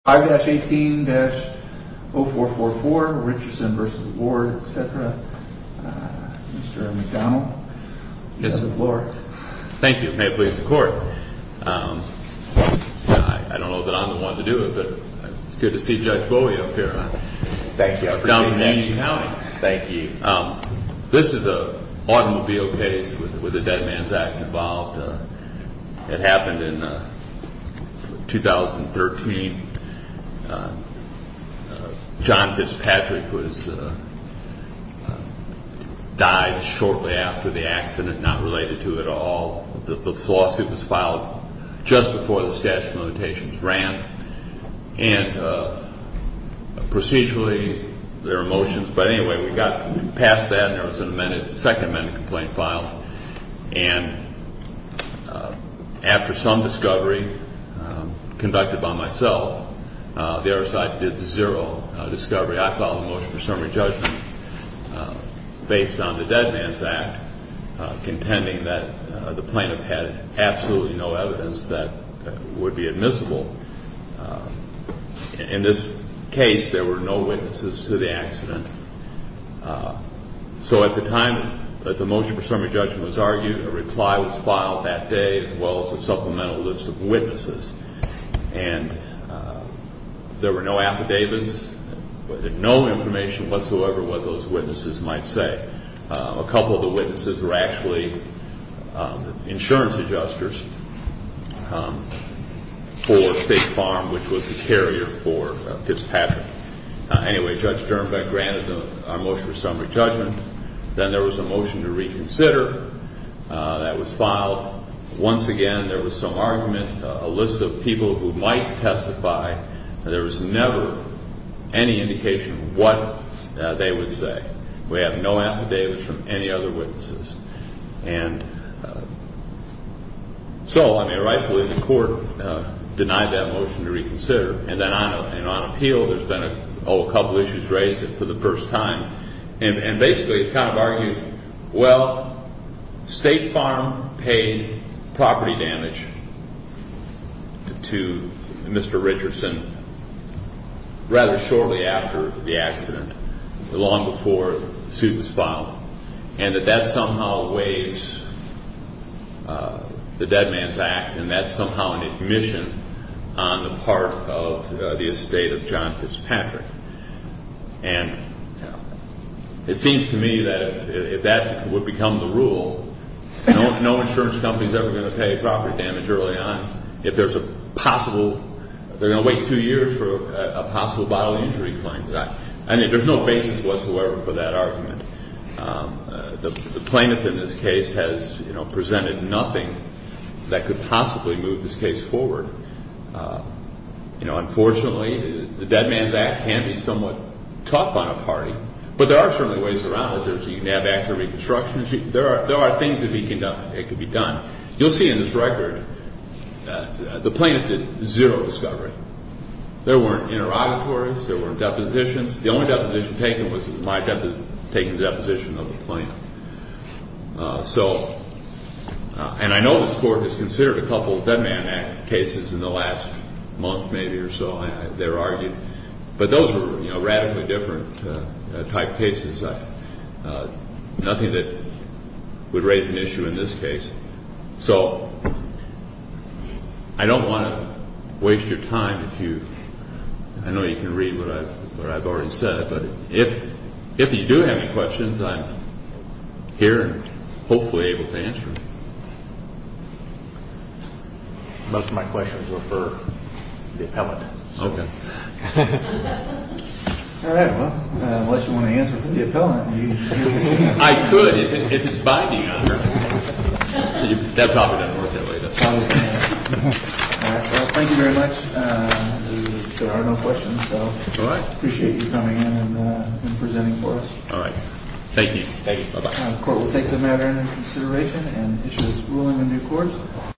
5-18-0444 Richardson v. Ward, etc. Mr. McDonnell, you have the floor. Thank you. May it please the Court. I don't know that I'm the one to do it, but it's good to see Judge Bowie up here. Thank you. I appreciate it. Down in Union County. Thank you. This is an automobile case with the Dead Man's Act involved. It happened in 2013. John Fitzpatrick died shortly after the accident, not related to it at all. The lawsuit was filed just before the statute of limitations ran, and procedurally there are motions. But anyway, we got past that, and there was a second amendment complaint filed. And after some discovery conducted by myself, the other side did zero discovery. I filed a motion for summary judgment based on the Dead Man's Act, contending that the plaintiff had absolutely no evidence that would be admissible. In this case, there were no witnesses to the accident. So at the time that the motion for summary judgment was argued, a reply was filed that day as well as a supplemental list of witnesses. And there were no affidavits, no information whatsoever what those witnesses might say. A couple of the witnesses were actually insurance adjusters for State Farm, which was the carrier for Fitzpatrick. Anyway, Judge Sternbeck granted our motion for summary judgment. Then there was a motion to reconsider that was filed. Once again, there was some argument, a list of people who might testify. There was never any indication of what they would say. We have no affidavits from any other witnesses. And so, I mean, rightfully, the court denied that motion to reconsider. And then on appeal, there's been, oh, a couple issues raised for the first time. And basically, it's kind of argued, well, State Farm paid property damage to Mr. Richardson rather shortly after the accident, long before the suit was filed, and that that somehow weighs the Dead Man's Act, and that's somehow an admission on the part of the estate of John Fitzpatrick. And it seems to me that if that would become the rule, no insurance company is ever going to pay property damage early on. If there's a possible, they're going to wait two years for a possible bodily injury claim. I mean, there's no basis whatsoever for that argument. The plaintiff in this case has presented nothing that could possibly move this case forward. You know, unfortunately, the Dead Man's Act can be somewhat tough on a party, but there are certainly ways around it. There's the NABAX or reconstruction. There are things that could be done. You'll see in this record that the plaintiff did zero discovery. There weren't interrogatories. There weren't depositions. The only deposition taken was my taking the deposition of the plaintiff. So, and I know this Court has considered a couple of Dead Man's Act cases in the last month, maybe, or so. They're argued. But those were, you know, radically different type cases. Nothing that would raise an issue in this case. So, I don't want to waste your time if you, I know you can read what I've already said, but if you do have any questions, I'm here and hopefully able to answer them. Most of my questions were for the appellant. Okay. All right. Well, unless you want to answer for the appellant. I could, if it's binding on her. That probably doesn't work that way, does it? All right. Well, thank you very much. There are no questions, so. All right. I appreciate you coming in and presenting for us. All right. Thank you. Thank you. Bye-bye. The Court will take the matter into consideration and issue its ruling in due course.